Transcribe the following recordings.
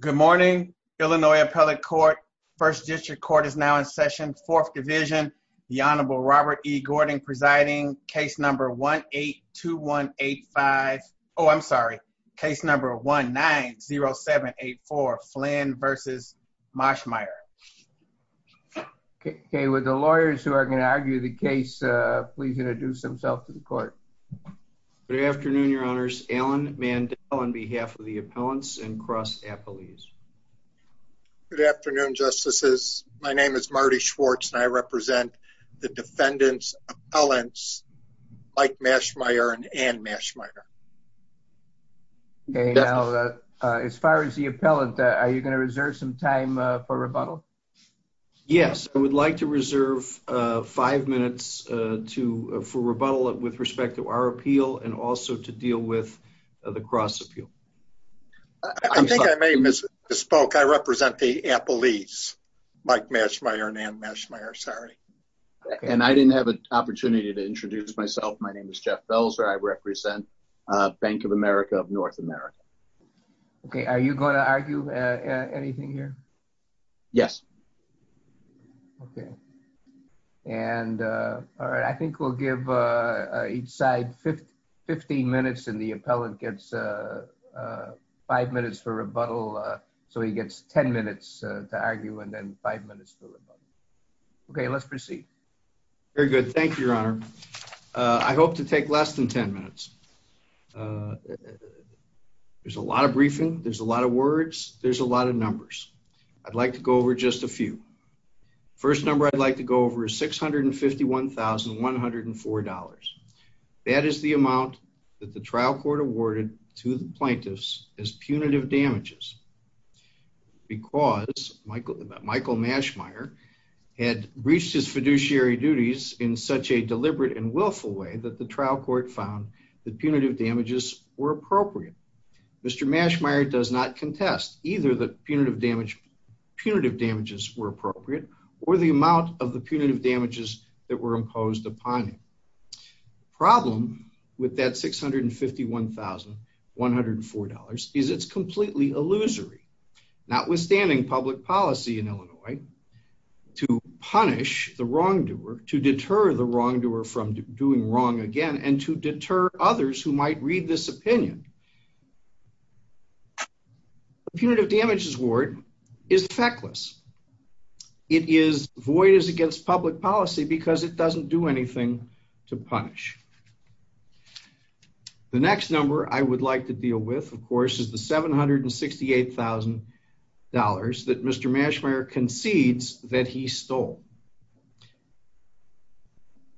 Good morning, Illinois Appellate Court. First District Court is now in session, Fourth Division. The Honorable Robert E. Gordon presiding. Case number 1-8-2-1-8-5. Oh, I'm sorry. Case number 1-9-0-7-8-4, Flynn v. Moshmire. Okay, with the lawyers who are going to argue the case, please introduce themselves to the court. Good afternoon, Your Honors. Alan Mandel on behalf of the appellants and cross appellees. Good afternoon, Justices. My name is Marty Schwartz and I represent the defendants' appellants, Mike Moshmire and Ann Moshmire. Okay, now as far as the appellant, are you going to reserve some time for rebuttal? Yes, I would like to reserve five minutes for rebuttal with respect to our appeal and also to deal with the cross appeal. I think I may misspoke. I represent the appellees, Mike Moshmire and Ann Moshmire, sorry. And I didn't have an opportunity to introduce myself. My name is Jeff Belzer. I represent Bank of America of North America. Okay, are you going to argue anything here? Yes. Okay. And all right, I think we'll give each side 15 minutes and the appellant gets five minutes for rebuttal. So he gets 10 minutes to argue and then five minutes for rebuttal. Okay, let's proceed. Very good. Thank you, Your Honor. I hope to take less than 10 minutes. There's a lot of briefing. There's a lot of words. There's a lot of numbers. I'd like to go over just a few. First number I'd like to go over is $651,104. That is the amount that the trial court awarded to the plaintiffs as punitive damages because Michael Moshmire had reached his fiduciary duties in such a deliberate and willful way that the trial court found the punitive damages were appropriate. Mr. Moshmire does not contest either the punitive damage punitive damages were appropriate or the amount of the punitive damages that were imposed upon him. Problem with that $651,104 is it's completely illusory. Notwithstanding public policy in Illinois to punish the wrongdoer, to deter the wrongdoer from doing wrong again, and to deter others who might read this opinion. Punitive damages award is feckless. It is void as against public policy because it doesn't do anything to punish. The next number I would like to deal with, of course, is the $768,000 that Mr. Moshmire concedes that he stole.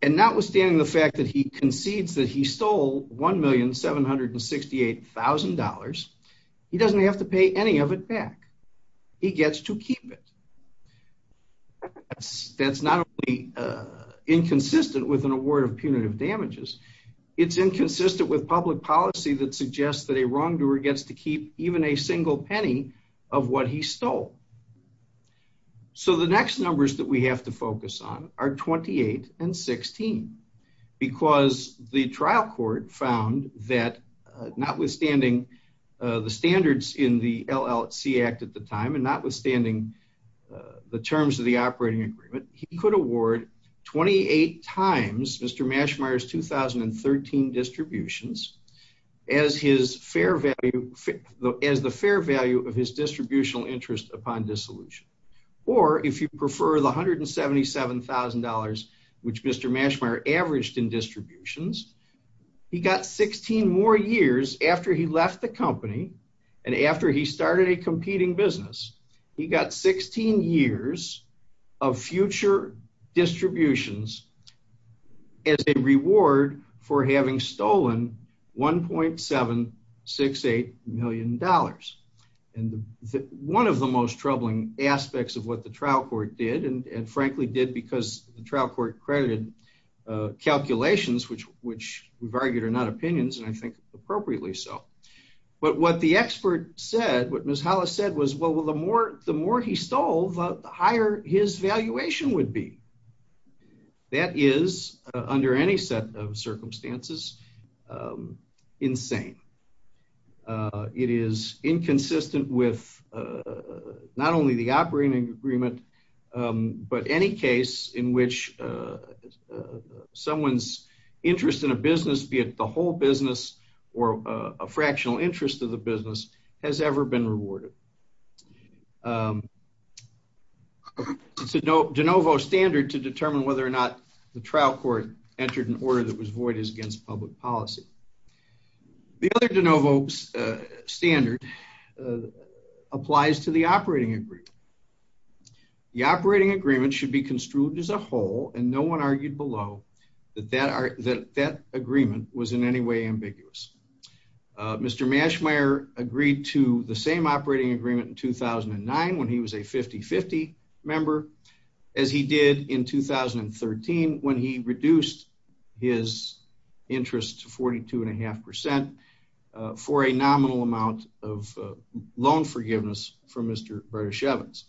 And notwithstanding the fact that he concedes that he stole $1,768,000, he doesn't have to pay any of it back. He gets to keep it. That's not only inconsistent with an award of punitive damages. It's inconsistent with public policy that suggests that a wrongdoer gets to keep even a single penny of what he stole. So the next numbers that we have to focus on are 28 and 16. Because the trial court found that notwithstanding the standards in the LLC Act at the time, and notwithstanding the terms of operating agreement, he could award 28 times Mr. Moshmire's 2013 distributions as the fair value of his distributional interest upon dissolution. Or if you prefer the $177,000 which Mr. Moshmire averaged in distributions, he got 16 more years after he left the company and after he started a competing business. He got 16 years of future distributions as a reward for having stolen $1.768 million. And one of the most troubling aspects of what the trial court did, and frankly did because the trial court credited calculations which we've argued are not opinions and I think appropriately so. But what the expert said, what Ms. Hollis said was, well, the more he stole, the higher his valuation would be. That is, under any set of circumstances, insane. It is inconsistent with not only the operating agreement, but any case in which someone's interest in a business, be it the whole business or a fractional interest of the business, has ever been rewarded. It's a de novo standard to determine whether or not the trial court entered an order that was void as against public policy. The other de novo standard applies to the operating agreement. The operating agreement should be construed as a whole and no one argued below that that agreement was in any way ambiguous. Mr. Moshmire agreed to the same operating agreement in 2009 when he was a 50-50 member, as he did in 2013 when he reduced his interest to 42.5% for a nominal amount of loan forgiveness from Mr. Bereshevitz.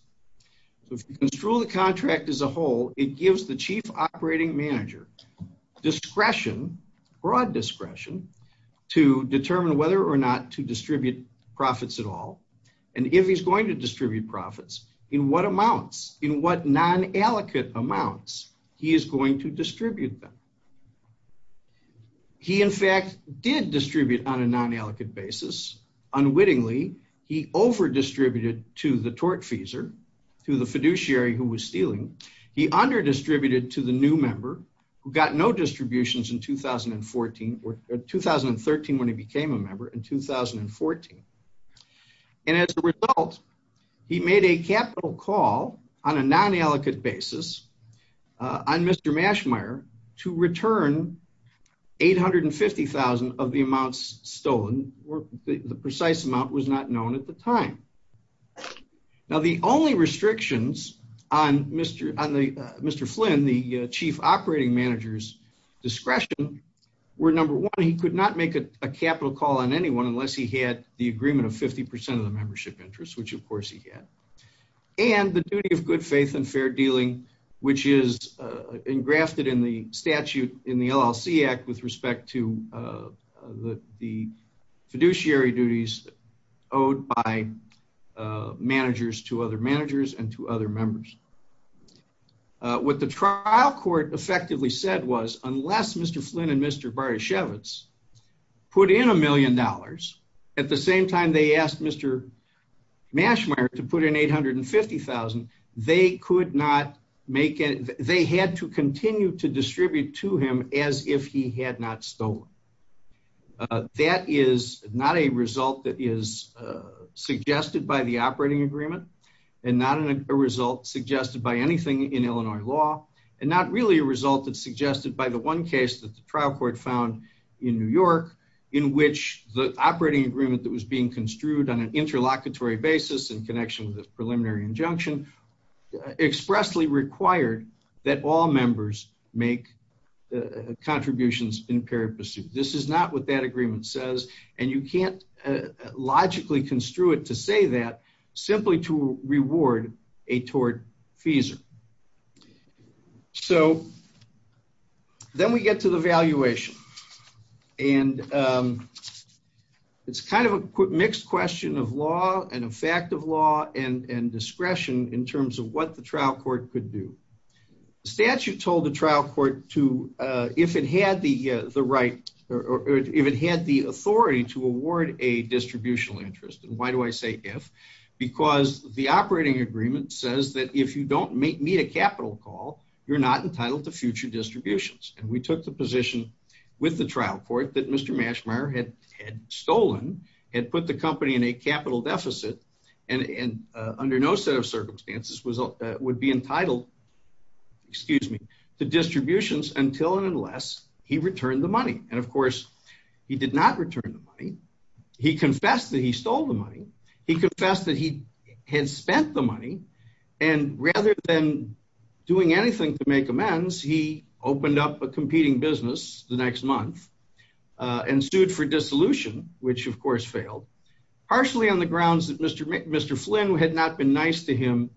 If you construe the contract as a whole, it gives the chief operating manager discretion, broad discretion, to determine whether or not to distribute profits at all, and if he's going to distribute profits, in what amounts, in what non-allocate amounts, he is going to distribute them. He, in fact, did distribute on a non-allocate basis. Unwittingly, he over-distributed to the tortfeasor, to the fiduciary who was stealing. He under-distributed to the new member who got no distributions in 2014, or 2013 when he became a member, and 2014. And as a result, he made a capital call on a non-allocate basis on Mr. Moshmire to return 850,000 of the amounts stolen. The precise amount was not known at the time. Now, the only restrictions on Mr. Flynn, the chief operating manager's discretion, were number one, he could not make a capital call on anyone unless he had the agreement of 50% of the membership interest, which, of course, he had, and the duty of good faith and fair dealing, which is engrafted in the statute in the LLC Act with respect to the fiduciary duties owed by managers to other managers and to other members. What the trial court effectively said was, unless Mr. Flynn and Mr. Baryshevitz put in a million dollars, at the same time they asked Mr. Moshmire to put in 850,000, they could not make it, they had to continue to distribute to him as if he had not stolen. That is not a result that is suggested by the operating agreement, and not a result suggested by anything in Illinois law, and not really a result that's suggested by the one case that the trial court found in New York, in which the operating agreement that was being construed on an interlocutory basis in connection with the preliminary injunction, expressly required that all members make contributions in paired pursuit. This is not what that agreement says, and you can't logically construe it to say that, simply to reward a tortfeasor. So, then we get to the valuation, and it's kind of a mixed question of law, and effect of law, and discretion in terms of what the trial court could do. The statute told the trial court to, if it had the right, or if it had the authority to award a distributional interest, and why do I say if? Because the operating agreement says that if you don't meet a capital call, you're not entitled to future distributions. And we took the position with the trial court that Mr. Mashmire had stolen, had put the company in a capital deficit, and under no set of circumstances would be entitled, excuse me, to distributions until and unless he returned the money. And of course, he did not return the money. He confessed that he stole the money. He confessed that he had spent the money, and rather than doing anything to make amends, he opened up a competing business the next month and sued for dissolution, which of course failed, partially on the grounds that Mr. Flynn had not been nice to him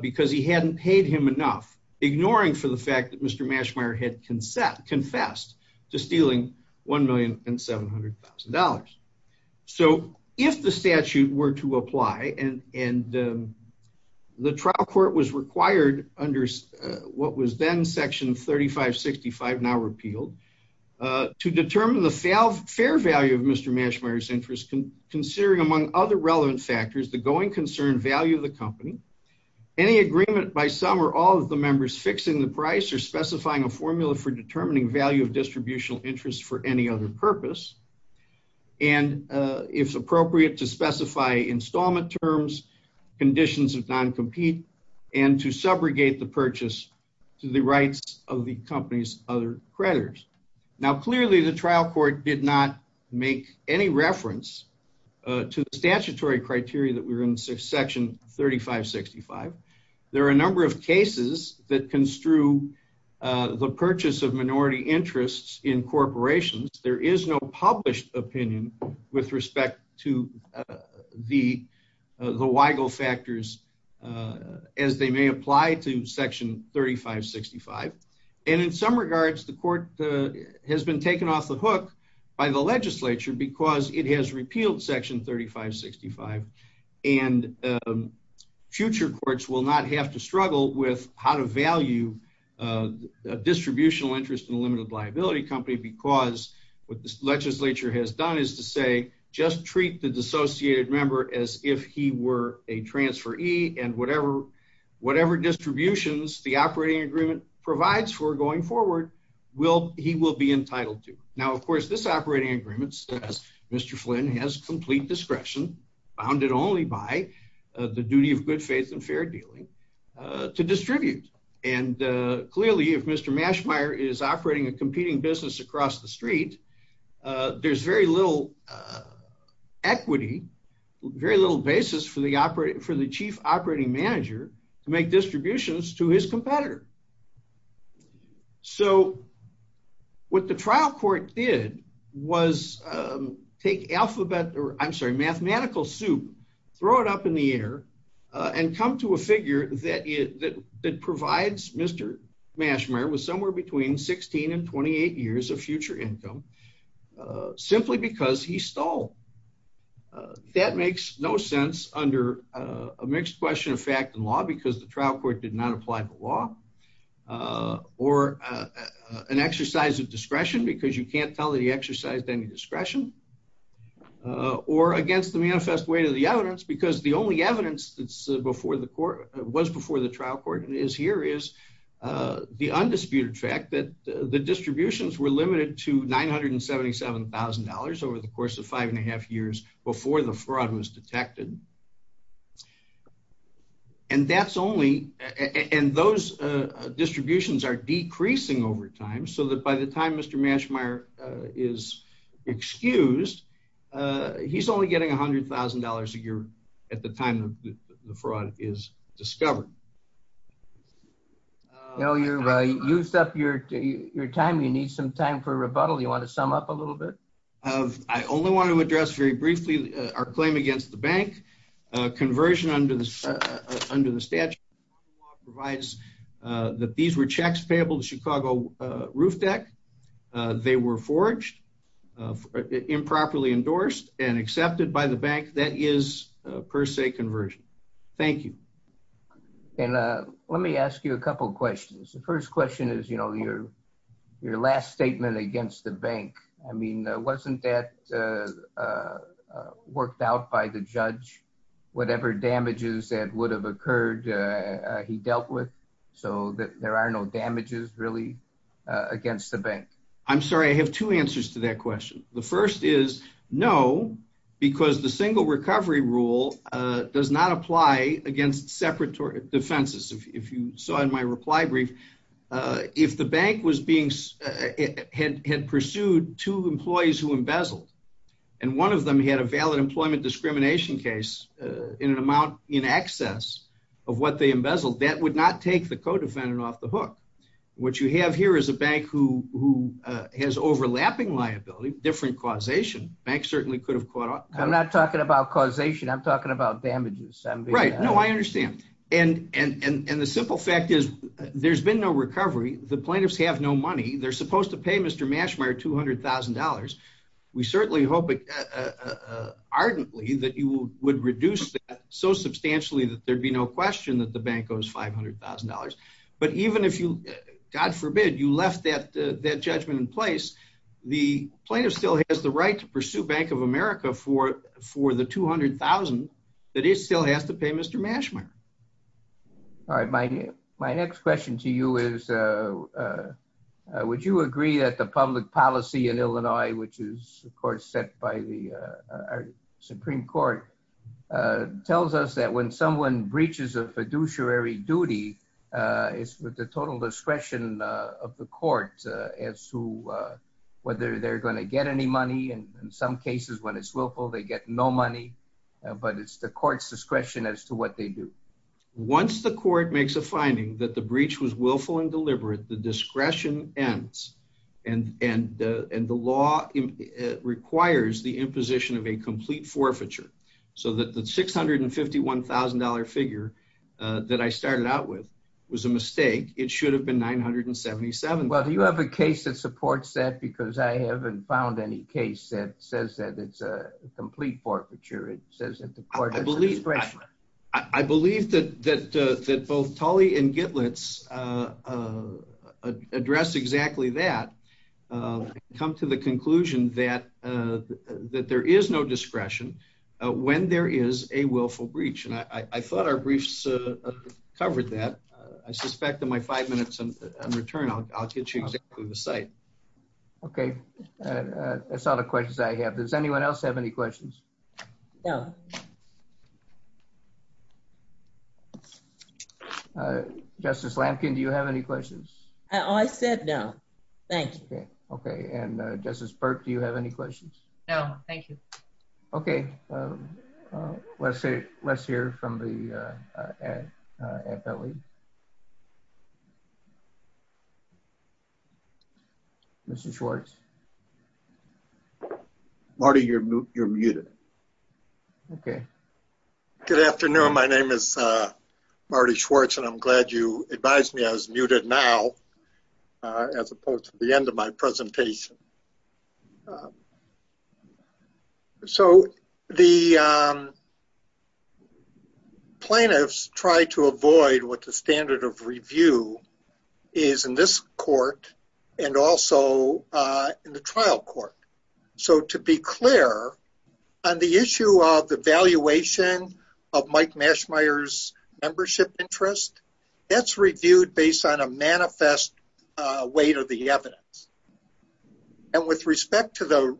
because he hadn't paid him enough, ignoring for the fact that Mr. Mashmire had confessed to stealing $1,700,000. So if the statute were to apply, and the trial court was required under what was then section 3565, now repealed, to determine the fair value of Mr. Mashmire's interest, considering among other relevant factors the going concern value of the formula for determining value of distributional interest for any other purpose, and if appropriate, to specify installment terms, conditions of non-compete, and to subrogate the purchase to the rights of the company's other creditors. Now, clearly, the trial court did not make any reference to the statutory criteria that were in section 3565. There are a number of cases that construe the purchase of minority interests in corporations. There is no published opinion with respect to the WIGO factors as they may apply to section 3565, and in some regards, the court has been taken off the hook by the legislature because it has repealed section 3565, and future courts will not have to struggle with how to value a distributional interest in a limited liability company because what the legislature has done is to say, just treat the dissociated member as if he were a transferee, and whatever distributions the operating agreement provides for going forward, he will be entitled to. Now, of course, this operating agreement says Mr. Flynn has complete discretion, bounded only by the duty of good faith and fair dealing, to distribute, and clearly, if Mr. Mashmeyer is operating a competing business across the street, there's very little equity, very little basis for the chief operating manager to make distributions to his competitor. So what the trial court did was take alphabet, I'm sorry, mathematical soup, throw it up in the air, and come to a figure that provides Mr. Mashmeyer with somewhere between 16 and 28 years of future income, simply because he stole. That makes no sense under a mixed question of fact and law, because the trial court did not apply the law, or an exercise of discretion, because you can't tell that he exercised any discretion, or against the manifest weight of the evidence, because the only evidence that's before the court, was before the trial court, and is here, is the undisputed fact that the distributions were limited to $977,000 over the course of five and a half years before the fraud was detected. And that's only, and those distributions are decreasing over time, so that by the time Mr. Mashmeyer is excused, he's only getting $100,000 a year at the time the fraud is discovered. Well, you've used up your time, you need some time for rebuttal, you want to sum up a little bit? I only want to address very briefly our claim against the bank. Conversion under the statute provides that these were checks payable to Chicago Roofdeck, they were forged, improperly endorsed, and accepted by the bank, that is per se conversion. Thank you. And let me ask you a couple questions. The first question is, you know, your your last statement against the bank, I mean, wasn't that worked out by the judge, whatever damages that would have occurred, he dealt with, so that there are no damages really against the bank? I'm sorry, I have two answers to that question. The first is no, because the if you saw in my reply brief, if the bank was being, had pursued two employees who embezzled, and one of them had a valid employment discrimination case in an amount in excess of what they embezzled, that would not take the co-defendant off the hook. What you have here is a bank who has overlapping liability, different causation, bank certainly could have caught up. I'm not talking about causation, I'm talking about and the simple fact is, there's been no recovery, the plaintiffs have no money, they're supposed to pay Mr. Mashmeyer $200,000. We certainly hope ardently that you would reduce that so substantially that there'd be no question that the bank owes $500,000. But even if you, God forbid, you left that that judgment in place, the plaintiff still has the right to pursue Bank America for the $200,000 that it still has to pay Mr. Mashmeyer. All right, my next question to you is, would you agree that the public policy in Illinois, which is of course set by the Supreme Court, tells us that when someone breaches a fiduciary duty, it's with the willful, they get no money, but it's the court's discretion as to what they do. Once the court makes a finding that the breach was willful and deliberate, the discretion ends and the law requires the imposition of a complete forfeiture. So that the $651,000 figure that I started out with was a mistake, it should have been $977,000. Well, do you have a case that says it's a complete forfeiture? I believe that both Tully and Gitlitz address exactly that, come to the conclusion that there is no discretion when there is a willful breach. And I thought our briefs covered that. I suspect in my five minutes in return, I'll get you exactly the site. Okay, that's all the questions I have. Does anyone else have any questions? No. Justice Lampkin, do you have any questions? I said no, thanks. Okay, and Justice Burke, do you have any questions? No, thank you. Okay, let's hear from the FLE. Mr. Schwartz. Marty, you're muted. Okay. Good afternoon. My name is Marty Schwartz and I'm glad you advised me I was muted now, as opposed to the end of my presentation. The standard of review is in this court and also in the trial court. So to be clear, on the issue of the valuation of Mike Mashmire's membership interest, that's reviewed based on a manifest weight of the evidence. And with respect to the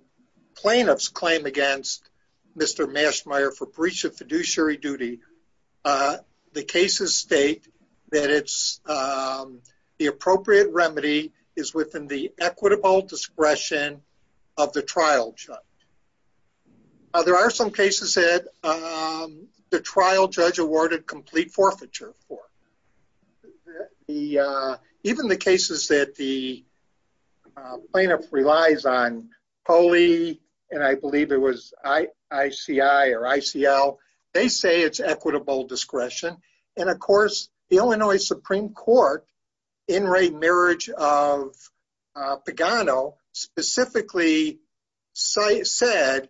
plaintiff's claim against Mr. Mashmire for that it's the appropriate remedy is within the equitable discretion of the trial judge. There are some cases that the trial judge awarded complete forfeiture for. Even the cases that the plaintiff relies on, POLE and I believe it was ICI or ICL, they say it's equitable discretion. And of course, the Illinois Supreme Court, in re-merge of Pagano, specifically said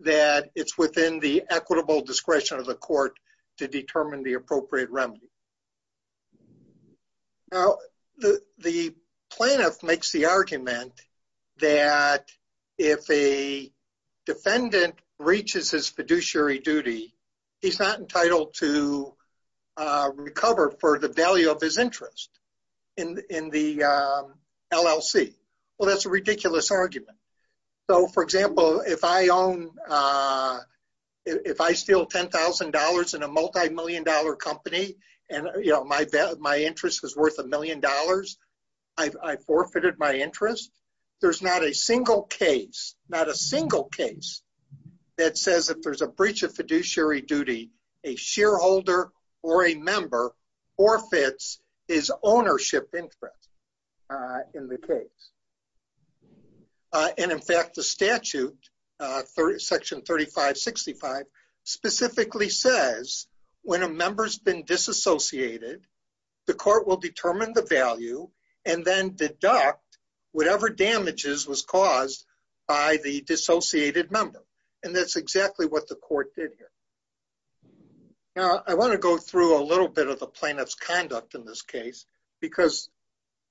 that it's within the equitable discretion of the court to determine the appropriate remedy. Now, the plaintiff makes the argument that if a he's not entitled to recover for the value of his interest in the LLC. Well, that's a ridiculous argument. So for example, if I own, if I steal $10,000 in a multi-million dollar company, and my interest was worth a million dollars, I forfeited my interest. There's not a single case, not a single case that says if there's a breach of fiduciary duty, a shareholder or a member forfeits his ownership interest in the case. And in fact, the statute, section 3565, specifically says when a member's been disassociated, the court will determine the disassociated member. And that's exactly what the court did here. Now, I want to go through a little bit of the plaintiff's conduct in this case, because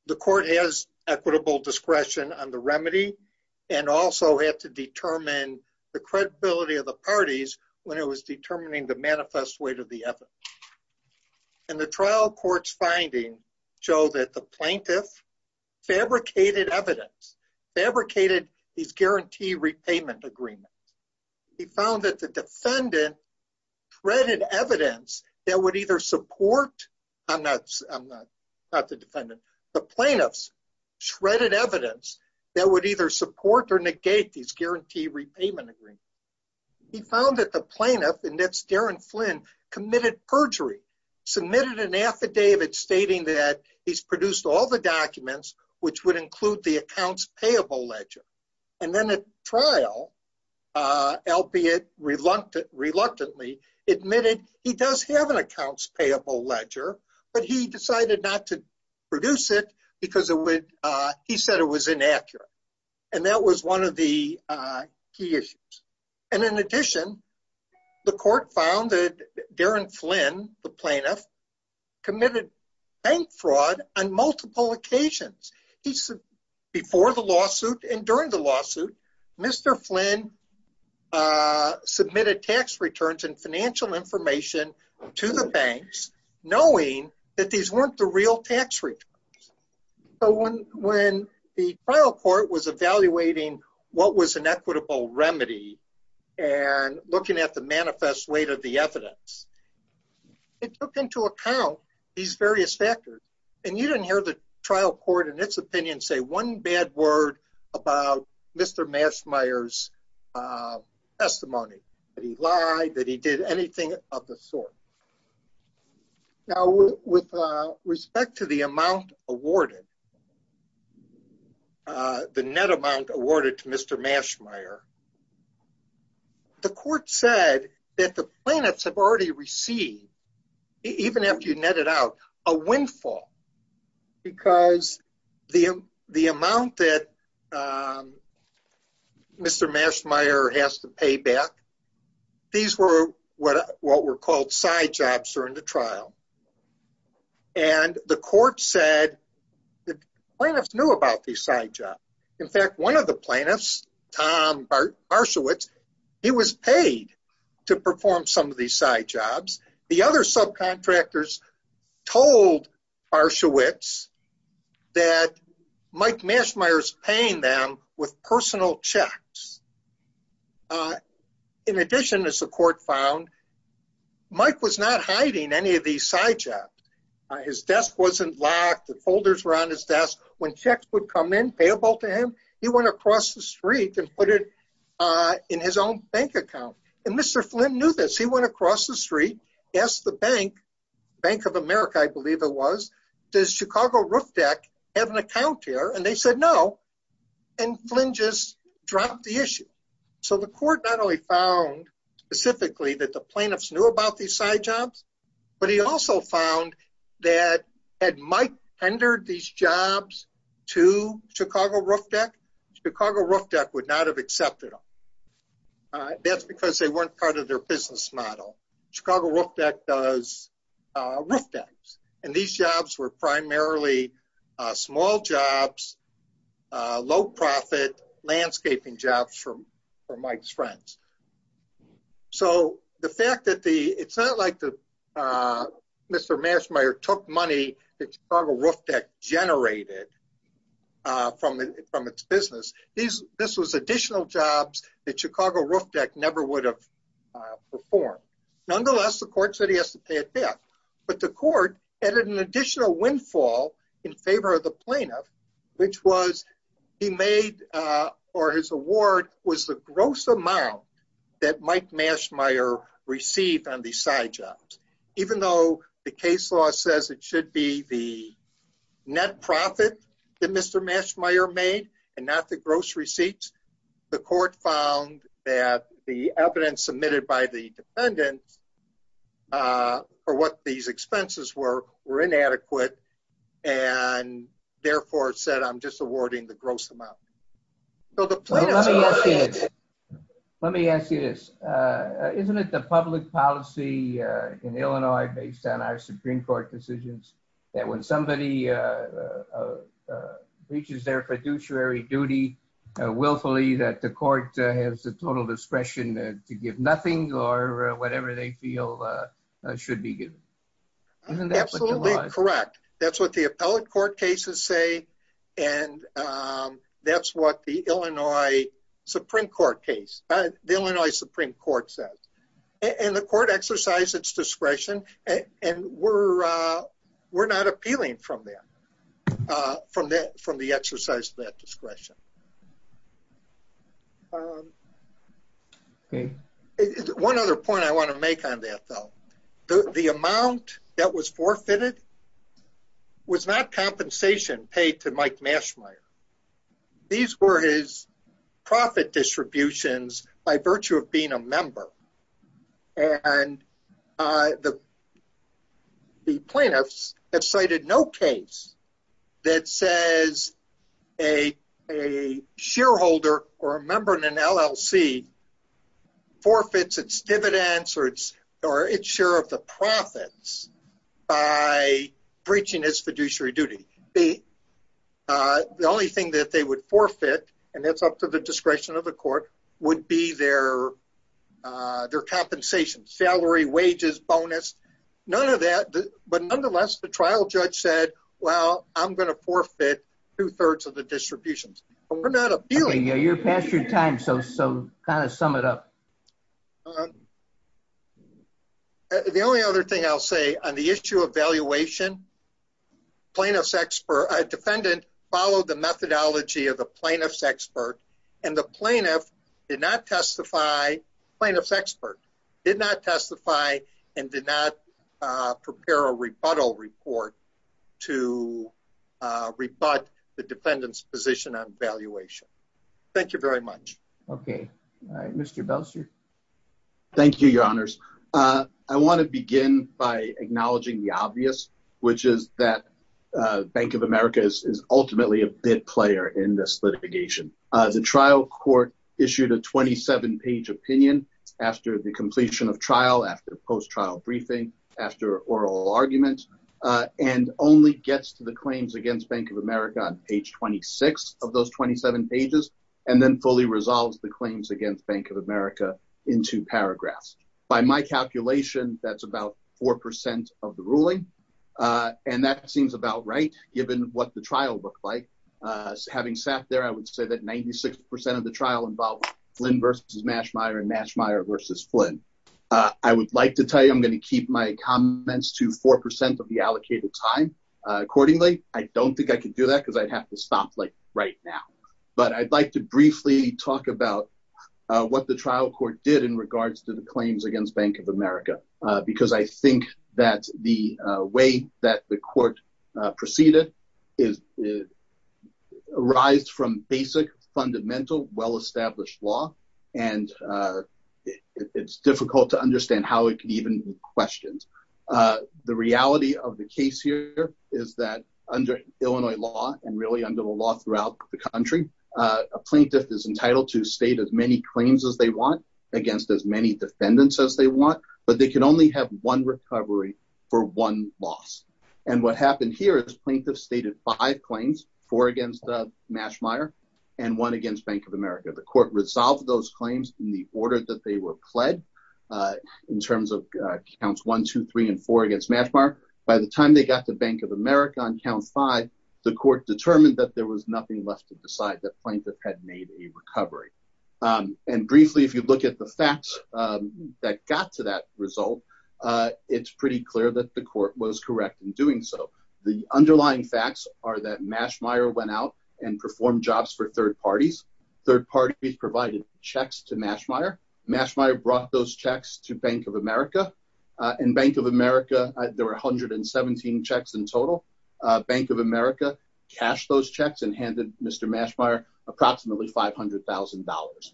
the court has equitable discretion on the remedy, and also had to determine the credibility of the parties when it was determining the manifest weight of the effort. And the trial court's finding show that the plaintiff fabricated evidence, fabricated these guarantee repayment agreements. He found that the defendant threaded evidence that would either support, I'm not the defendant, the plaintiff's shredded evidence that would either support or negate these guarantee repayment agreements. He found that the plaintiff, and that's Darren Flynn, committed perjury, submitted an affidavit stating that he's and then at trial, albeit reluctantly admitted he does have an accounts payable ledger, but he decided not to produce it because he said it was inaccurate. And that was one of the key issues. And in addition, the court found that Darren Flynn, the plaintiff, committed bank fraud on multiple occasions. Before the lawsuit and during the lawsuit, Mr. Flynn submitted tax returns and financial information to the banks, knowing that these weren't the real tax returns. So when the trial court was evaluating what was an equitable remedy and looking at the manifest weight of the evidence, it took into account these various factors. And you didn't hear the trial court in its opinion say one bad word about Mr. Mashmire's testimony, that he lied, that he did anything of the sort. Now, with respect to the amount awarded, the net amount awarded to Mr. Mashmire, the court said that the plaintiffs have already received, even after you net it out, a windfall. Because the amount that Mr. Mashmire has to pay back, these were what were called side jobs during the trial. And the court said that the plaintiffs knew about these side jobs. In fact, one of the plaintiffs, Tom Barshawitz, he was paid to perform some of these side jobs. The other subcontractors told Barshawitz that Mike Mashmire's paying them with personal checks. In addition, as the court found, Mike was not hiding any of these side jobs. His desk wasn't locked, the folders were on his desk. When checks would come in payable to him, he went across the street and put it in his own bank account. And Mr. Flynn knew this, he went across the street, asked the bank, Bank of America, I believe it was, does Chicago Roofdeck have an account here? And they said no. And Flynn just dropped the issue. So the court not only found specifically that the plaintiffs knew about these side jobs, but he also found that had Mike tendered these jobs to Chicago Roofdeck, Chicago Roofdeck would not have accepted them. That's because they weren't part of their business model. Chicago Roofdeck does roof decks. And these jobs were primarily small jobs, low profit landscaping jobs for Mike's friends. So the fact that it's not like Mr. Mashmire took money that Chicago Roofdeck generated from its business. This was additional jobs that Chicago Roofdeck never would have performed. Nonetheless, the court said he has to pay it back. But the court added an additional windfall in favor of the plaintiff, which was he made or his award was the gross amount that Mike Mashmire received on the side jobs. Even though the case law says it should be the net profit that Mr. Mashmire made and not the gross receipts. The court found that the evidence and therefore said, I'm just awarding the gross amount. Let me ask you this. Isn't it the public policy in Illinois based on our Supreme Court decisions that when somebody reaches their fiduciary duty willfully that the court has the total That's what the appellate court cases say. And that's what the Illinois Supreme Court case, the Illinois Supreme Court says, and the court exercise its discretion. And we're, we're not appealing from there. From that from the exercise that discretion. Okay. One other point I want to make on that, though, the amount that was forfeited was not compensation paid to Mike Mashmire. These were his profit distributions by virtue of being a shareholder or a member in an LLC forfeits its dividends or its or its share of the profits by breaching his fiduciary duty. The only thing that they would forfeit, and that's up to the discretion of the court, would be their, their compensation, salary, wages, bonus, none of that. But nonetheless, the trial judge said, well, I'm going to forfeit two thirds of the distributions. We're not appealing. Yeah, you're past your time. So, so kind of sum it up. The only other thing I'll say on the issue of valuation plaintiff's expert defendant followed the methodology of the plaintiff's expert and the plaintiff did not testify plaintiff's expert did not testify and did not prepare a rebuttal report to rebut the defendant's position on valuation. Thank you very much. Okay. All right. Mr. Belser. Thank you, your honors. I want to begin by acknowledging the obvious, which is that Bank of America is ultimately a bit player in this litigation. The trial court issued a 27 page opinion after the completion of trial, after post trial briefing, after oral arguments, and only gets to the claims against Bank of America on page 26 of those 27 pages, and then fully resolves the claims against Bank of America into paragraphs. By my calculation, that's about 4% of the ruling. And that seems about right, given what the trial looked like. Having sat there, I would say that 96% of the trial involved Flynn versus Mashmire and Mashmire versus Flynn. I would like to tell you, I'm going to keep my comments to 4% of the allocated time. Accordingly, I don't think I can do that because I'd have to stop like right now. But I'd like to briefly talk about what the trial court did in regards to the claims against Bank of America. Because I think that the way that the court proceeded is, arise from basic, fundamental, well established law. And it's difficult to understand how it can even be questioned. The reality of the case here is that under Illinois law, and really under the law throughout the country, a plaintiff is entitled to state as many claims as they want against as many defendants as they want, but they can only have one recovery for one loss. And what happened here is plaintiff stated five claims, four against Mashmire and one against Bank of America. The court resolved those claims in the order that they were pled in terms of counts one, two, three, and four against Mashmire. By the time they got to Bank of America on count five, the court determined that there was nothing left to decide, that plaintiff had made a recovery. And briefly, if you look at the facts that got to that result, it's pretty clear that the court was correct in doing so. The underlying facts are that Mashmire went out and performed jobs for third parties. Third parties provided checks to Mashmire. Mashmire brought those checks to Bank of America. And Bank of America, there were 117 checks in total. Bank of America cashed those $500,000.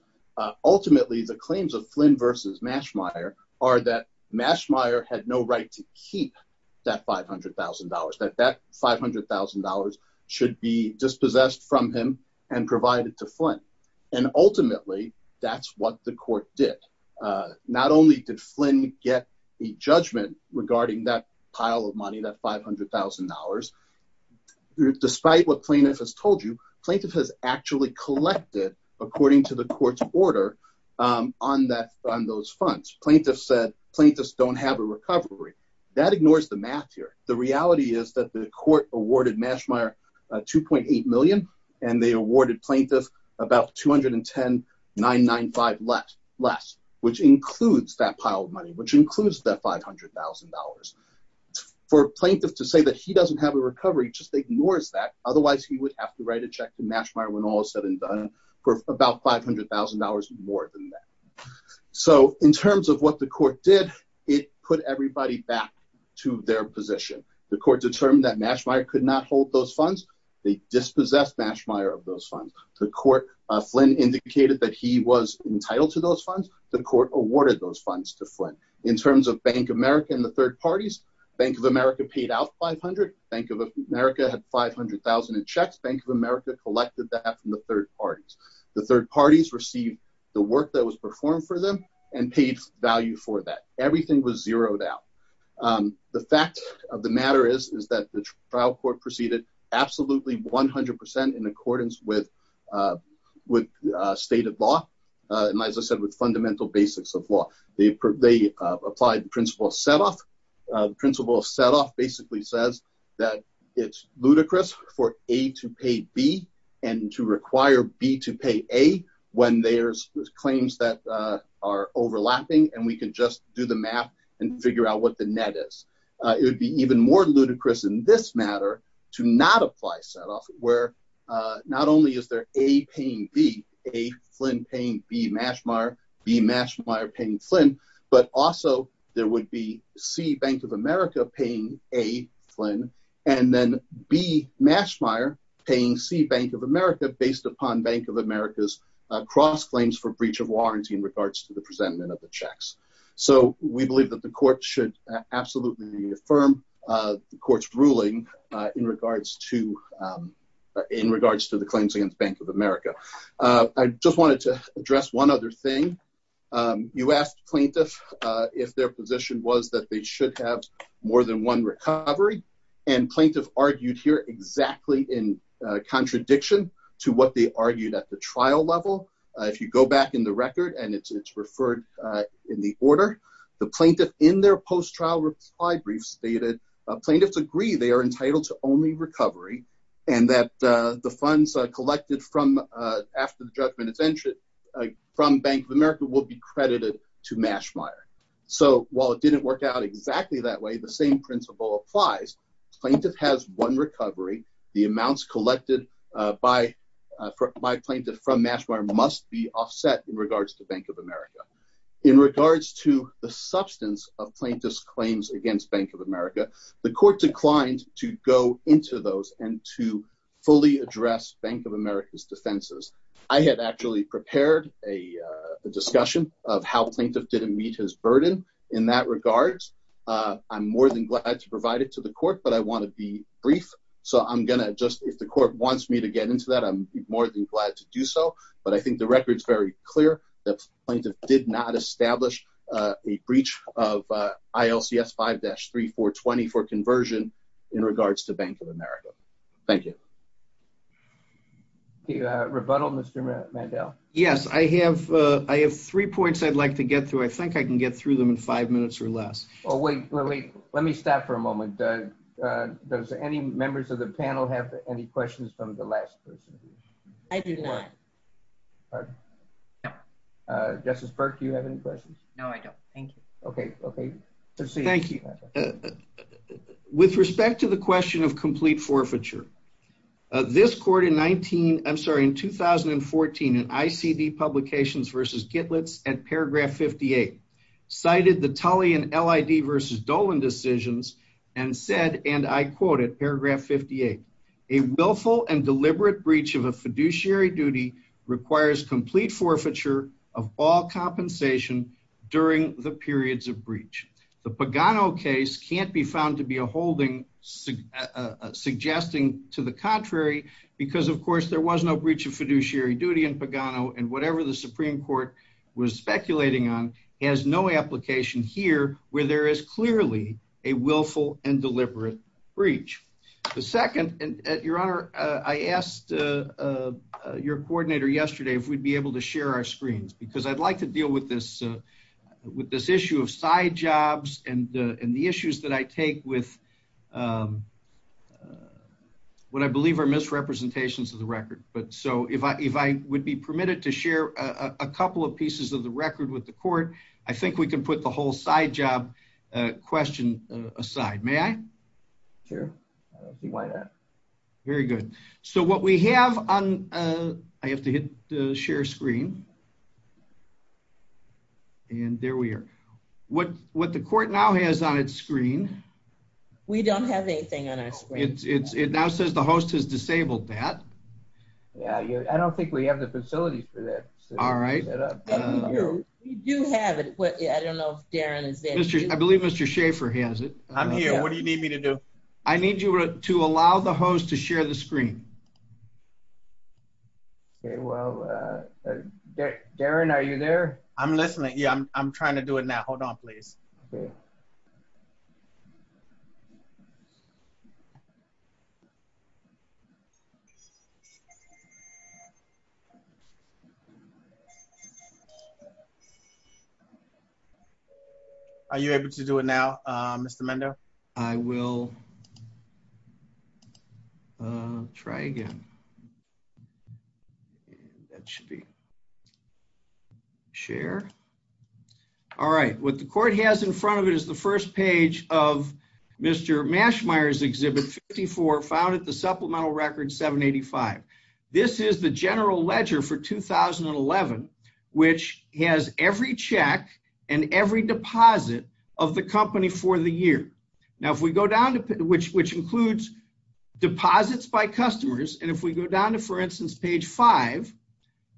Ultimately, the claims of Flynn versus Mashmire are that Mashmire had no right to keep that $500,000, that that $500,000 should be dispossessed from him and provided to Flynn. And ultimately, that's what the court did. Not only did Flynn get a judgment regarding that pile of money, that $500,000, despite what plaintiff has told you, plaintiff has actually collected, according to the court's order, on that on those funds. Plaintiff said plaintiffs don't have a recovery. That ignores the math here. The reality is that the court awarded Mashmire $2.8 million, and they awarded plaintiff about $210,995 less, which includes that pile of money, which includes that $500,000. For plaintiff to say that he doesn't have a recovery just ignores that. Otherwise, he would have to write a check to Mashmire when all is said and done for about $500,000 more than that. So in terms of what the court did, it put everybody back to their position. The court determined that Mashmire could not hold those funds. They dispossessed Mashmire of those funds. The court, Flynn indicated that he was entitled to those funds. The court awarded those funds to Flynn. In terms of Bank of America and the third parties, Bank of America paid out $500,000. Bank of America had $500,000 in checks. Bank of America collected that from the third parties. The third parties received the work that was performed for them and paid value for that. Everything was zeroed out. The fact of the matter is that the trial court proceeded absolutely 100% in accordance with stated law and, as I said, with fundamental basics of law. They applied principle of set-off. Principle of set-off basically says that it's ludicrous for A to pay B and to require B to pay A when there's claims that are overlapping and we can just do the math and figure out what the net is. It would be even more ludicrous in this matter to not apply set-off where not only is there A paying B, A Flynn paying B Mashmire, B Mashmire paying Flynn, but also there would be C Bank of America paying A Flynn and then B Mashmire paying C Bank of America based upon Bank of America's cross claims for breach of warranty in regards to the presentment of the checks. We believe that the court should absolutely affirm the court's ruling in regards to the claims against Bank of America. I just wanted to address one other thing. You asked plaintiffs if their position was that they should have more than one recovery and plaintiff argued here exactly in contradiction to what they argued at the trial level. If you go back in the record and it's referred in the order, the plaintiff in their post-trial reply brief stated plaintiffs agree they are entitled to only recovery and that the funds collected from after the judgment from Bank of America will be credited to Mashmire. So, while it didn't work out exactly that way, the same principle applies. Plaintiff has one recovery. The amounts collected by my plaintiff from Mashmire must be offset in regards to Bank of America. In regards to the substance of plaintiff's claims against Bank of America, the court declined to go into those and to fully address Bank of America's defenses. I had actually prepared a discussion of how plaintiff didn't meet his burden in that regard. I'm more than glad to provide it to the court, but I want to be brief. So, I'm going to just, if the court wants me to get into that, I'm more than glad to do so. But I think the record's very important. Thank you. Thank you. Rebuttal, Mr. Mandel. Yes. I have three points I'd like to get through. I think I can get through them in five minutes or less. Oh wait, let me stop for a moment. Does any members of the panel have any questions from the last person? I do not. Pardon? No. Justice Burke, do you have any questions? No, I don't. Thank you. Okay. Okay. Thank you. With respect to the question of complete forfeiture, this court in 19, I'm sorry, in 2014 in ICD Publications v. Gitlitz at paragraph 58, cited the Tully and LID v. Dolan decisions and said, and I quote it, paragraph 58, a willful and deliberate breach of a fiduciary duty requires complete forfeiture of all compensation during the periods of breach. The Pagano case can't be found to be a holding suggesting to the contrary, because of course, there was no breach of fiduciary duty in Pagano and whatever the Supreme Court was speculating on has no application here where there is clearly a willful and deliberate breach. The second, and your honor, I asked your coordinator yesterday if we'd be able to and the issues that I take with what I believe are misrepresentations of the record. But so if I would be permitted to share a couple of pieces of the record with the court, I think we can put the whole side job question aside. May I? Sure. Why not? Very good. So what we have on, I have to hit the share screen. And there we are. What the court now has on its screen. We don't have anything on our screen. It now says the host has disabled that. Yeah, I don't think we have the facility for that. All right. We do have it, but I don't know if Darren is there. I believe Mr. Schaefer has it. I'm here. What do you need me to do? I need you to allow the host to share the screen. Okay, well, Darren, are you there? I'm listening. Yeah, I'm trying to do it now. Hold on, please. Are you able to do it now, Mr. Mendo? I will try again. And that should be share. All right. What the court has in front of it is the first page of Mr. Mashmeyer's Exhibit 54, found at the supplemental record 785. This is the general ledger for 2011, which has every check and every deposit of the company for the year. Now, if we go down to which includes deposits by customers. And if we go down to, for instance, page 5,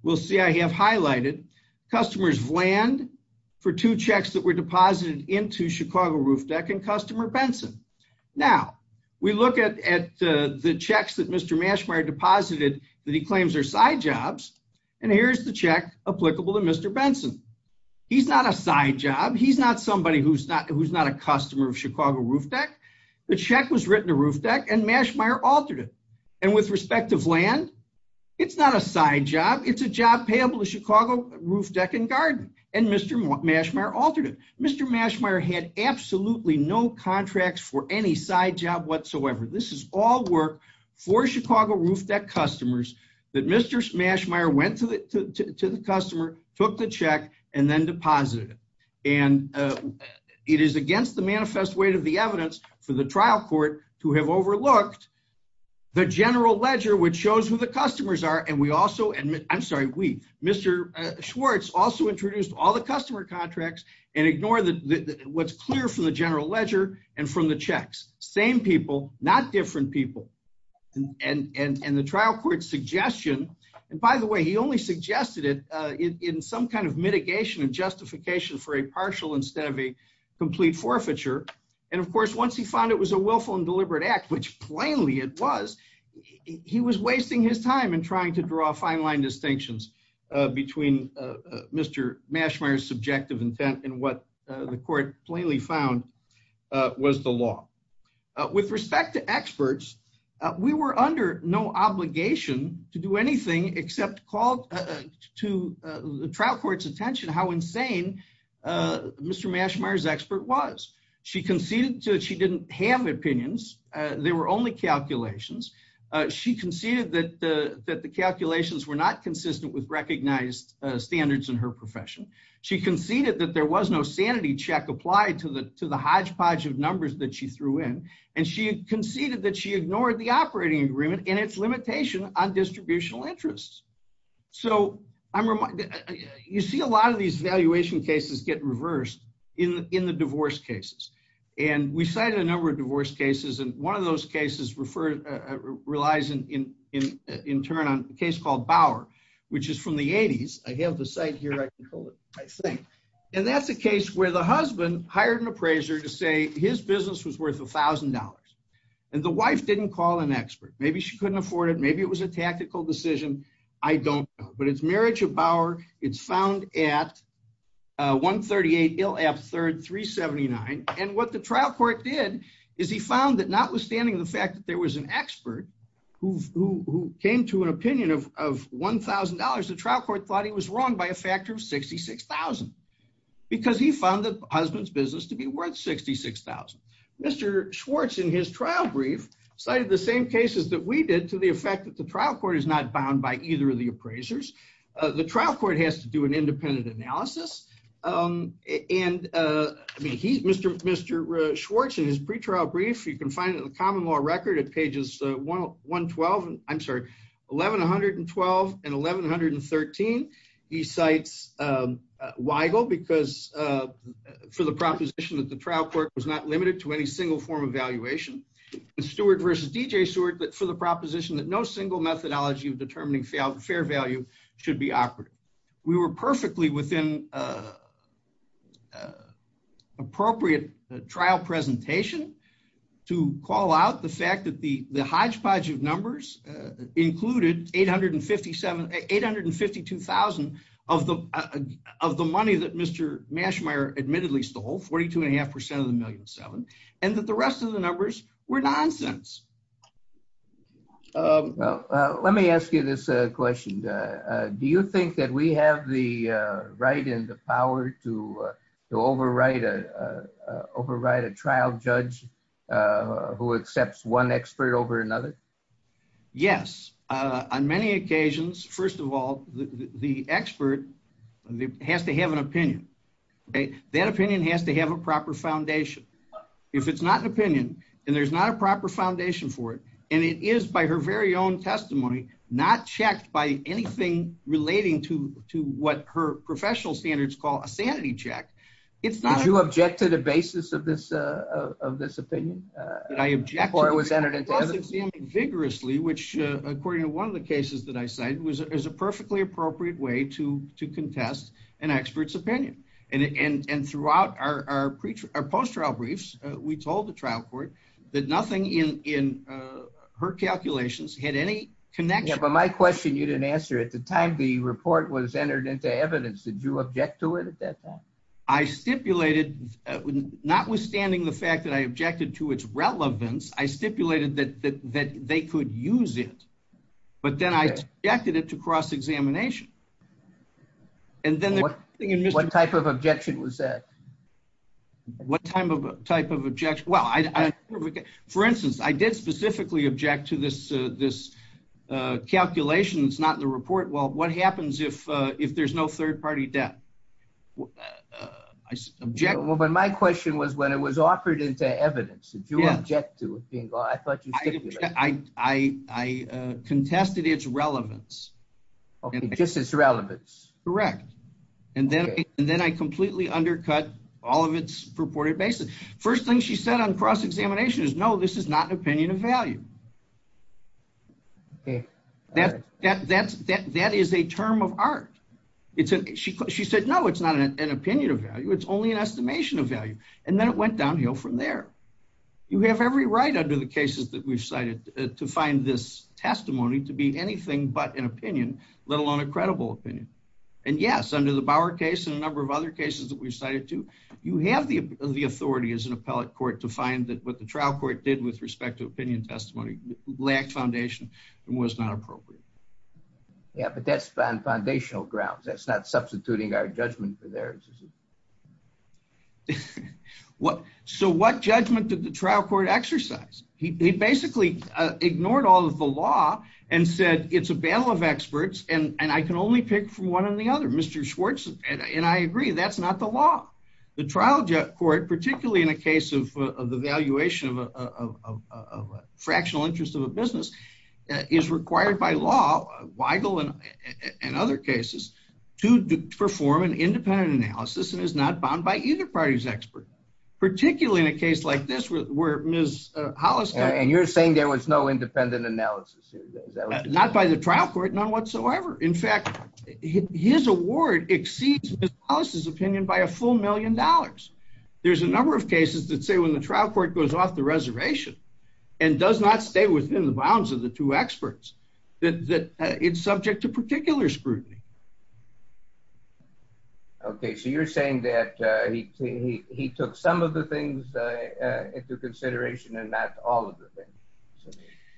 we'll see I have highlighted customers Vland for two checks that were deposited into Chicago Roof Deck and customer Benson. Now, we look at the checks that Mr. Mashmeyer deposited that he claims are side jobs. And here's the check applicable to Mr. Benson. He's not a side job. He's not somebody who's not a customer of Chicago Roof Deck. The check was written to Roof Deck and Mashmeyer altered it. And with respect to Vland, it's not a side job. It's a job payable to Chicago Roof Deck and Garden and Mr. Mashmeyer altered it. Mr. Mashmeyer had absolutely no contracts for any side job whatsoever. This is all work for Chicago Roof Deck customers that Mr. Mashmeyer went to the customer, took the check and then deposited it. And it is against the manifest weight of the evidence for the trial court to have overlooked the general ledger, which shows who the customers are. And we also admit, I'm sorry, we, Mr. Schwartz also introduced all the customer contracts and ignore what's clear from the general ledger and from the checks. Same people, not different people. And the trial court suggestion, and by the way, he only suggested it in some kind of mitigation and justification for a partial instead of a complete forfeiture. And of course, once he found it was a willful and deliberate act, which plainly it was, he was wasting his time in trying to draw a fine line distinctions between Mr. Mashmeyer's subjective intent and what the court plainly found was the law. With respect to experts, we were under no obligation to do anything except called to the trial court's attention how insane Mr. Mashmeyer's expert was. She conceded that she didn't have opinions. There were only calculations. She conceded that the calculations were not consistent with recognized standards in her profession. She conceded that there was no sanity check applied to the hodgepodge of numbers that she threw in. And she conceded that she ignored the operating agreement and its limitation on distributional interests. So you see a lot of these valuation cases get reversed in the divorce cases. And we cited a number of divorce cases. And one of those cases relies in turn on a case called Bauer, which is from the 80s. I have the site here. I can hold it, I think. And that's a case where the husband hired an appraiser to say his business was worth $1,000. And the wife didn't call an expert. Maybe she couldn't afford it. Maybe it was a tactical decision. I don't know. But it's marriage of Bauer. It's found at 138 Ill App 3rd, 379. And what the trial court did is he found that notwithstanding the fact that there was an expert who came to an opinion of $1,000, the trial court thought he was wrong by a factor of 66,000. Because he found the husband's business to be worth 66,000. Mr. Schwartz in his trial brief cited the same cases that we did to the effect that the trial court is not bound by either of the appraisers. The trial court has to do an independent analysis. And I mean, Mr. Schwartz in his pre-trial brief, you can find it in the common law record at pages 112. I'm sorry, 1112 and 1113. He cites Weigel because for the proposition that the trial court was not limited to any single form of valuation. Stewart versus D.J. Stewart for the proposition that no single methodology of determining fair value should be operative. We were perfectly within appropriate trial presentation to call out the fact that the hodgepodge of numbers included 852,000 of the money that Mr. Mashmeyer admittedly stole, 42.5% of the 1.7 million. And that the rest of the numbers were nonsense. Well, let me ask you this question. Do you think that we have the right and the power to overwrite a trial judge who accepts one expert over another? Yes. On many occasions, first of all, the expert has to have an opinion, okay? That opinion has to have a proper foundation. If it's not an opinion and there's not a proper foundation, and it is by her very own testimony, not checked by anything relating to what her professional standards call a sanity check, it's not- Did you object to the basis of this opinion? Did I object to the basis of this opinion? I object to the basis of this opinion vigorously, which according to one of the cases that I cited, was a perfectly appropriate way to contest an expert's opinion. And throughout our post-trial briefs, we told the trial court that nothing in her calculations had any connection- Yeah, but my question you didn't answer. At the time the report was entered into evidence, did you object to it at that time? I stipulated, notwithstanding the fact that I objected to its relevance, I stipulated that they could use it. But then I objected it to cross-examination. And then- What type of objection was that? What type of objection? Well, for instance, I did specifically object to this calculation that's not in the report. Well, what happens if there's no third-party debt? I object- Well, but my question was when it was offered into evidence, did you object to it being- I thought you stipulated- I contested its relevance. Okay, just its relevance. Correct. And then I completely undercut all of its purported basis. First thing she said on cross-examination is, no, this is not an opinion of value. Okay. That is a term of art. She said, no, it's not an opinion of value. It's only an estimation of value. And then it went downhill from there. You have every right under the cases that we've cited to find this testimony to be anything but an opinion, let alone a credible opinion. And yes, under the Bauer case and a number of other cases that we've cited too, you have the authority as an appellate court to find that what the trial court did with respect to opinion testimony lacked foundation and was not appropriate. Yeah, but that's on foundational grounds. That's not substituting our judgment for theirs. So what judgment did the trial court exercise? He basically ignored all of the law and said, it's a battle of experts and I can only pick from one or the other, Mr. Schwartz. And I agree, that's not the law. The trial court, particularly in a case of the valuation of a fractional interest of a business is required by law, Weigel and other cases to perform an independent analysis and is not bound by either party's expert. Particularly in a case like this where Ms. Hollis- And you're saying there was no independent analysis? Not by the trial court, none whatsoever. In fact, his award exceeds Ms. Hollis' opinion by a full million dollars. There's a number of cases that say when the trial court goes off the reservation and does not stay within the bounds of the two experts, that it's subject to particular scrutiny. Okay, so you're saying that he took some of the things into consideration and not all of the things.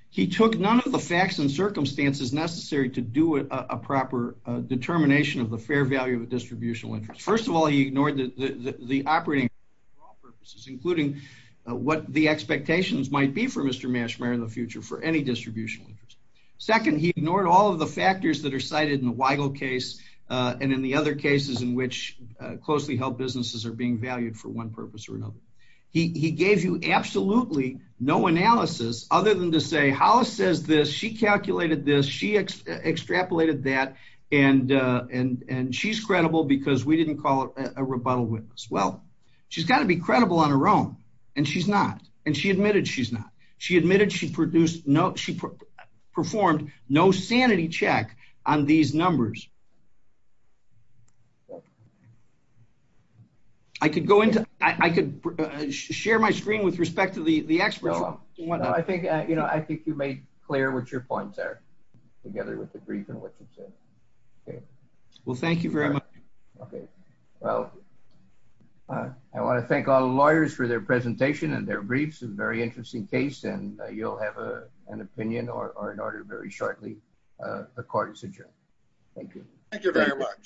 He took none of the facts and circumstances necessary to do a proper determination of the fair value of a distributional interest. First of all, he ignored the operating for all purposes, including what the expectations might be for Mr. Meshmeyer in the future for any distributional interest. Second, he ignored all of the factors that are cited in the Weigel case and in the other cases in which closely held businesses are being valued for one purpose or another. He gave you absolutely no analysis other than to say, Hollis says this, she calculated this, she extrapolated that and she's credible because we didn't call it a rebuttal witness. Well, she's got to be credible on her own and she's not, and she admitted she's not. She admitted she produced no, she performed no sanity check on these numbers. I could go into, I could share my screen with respect to the experts. No, I think, you know, I think you made clear what your points are together with the brief and what you've said. Okay. Well, thank you very much. Okay. Well, I want to thank all the lawyers for their presentation and their briefs. It's a very interesting case and you'll have an opinion or an order very shortly. The court is adjourned. Thank you. Thank you very much.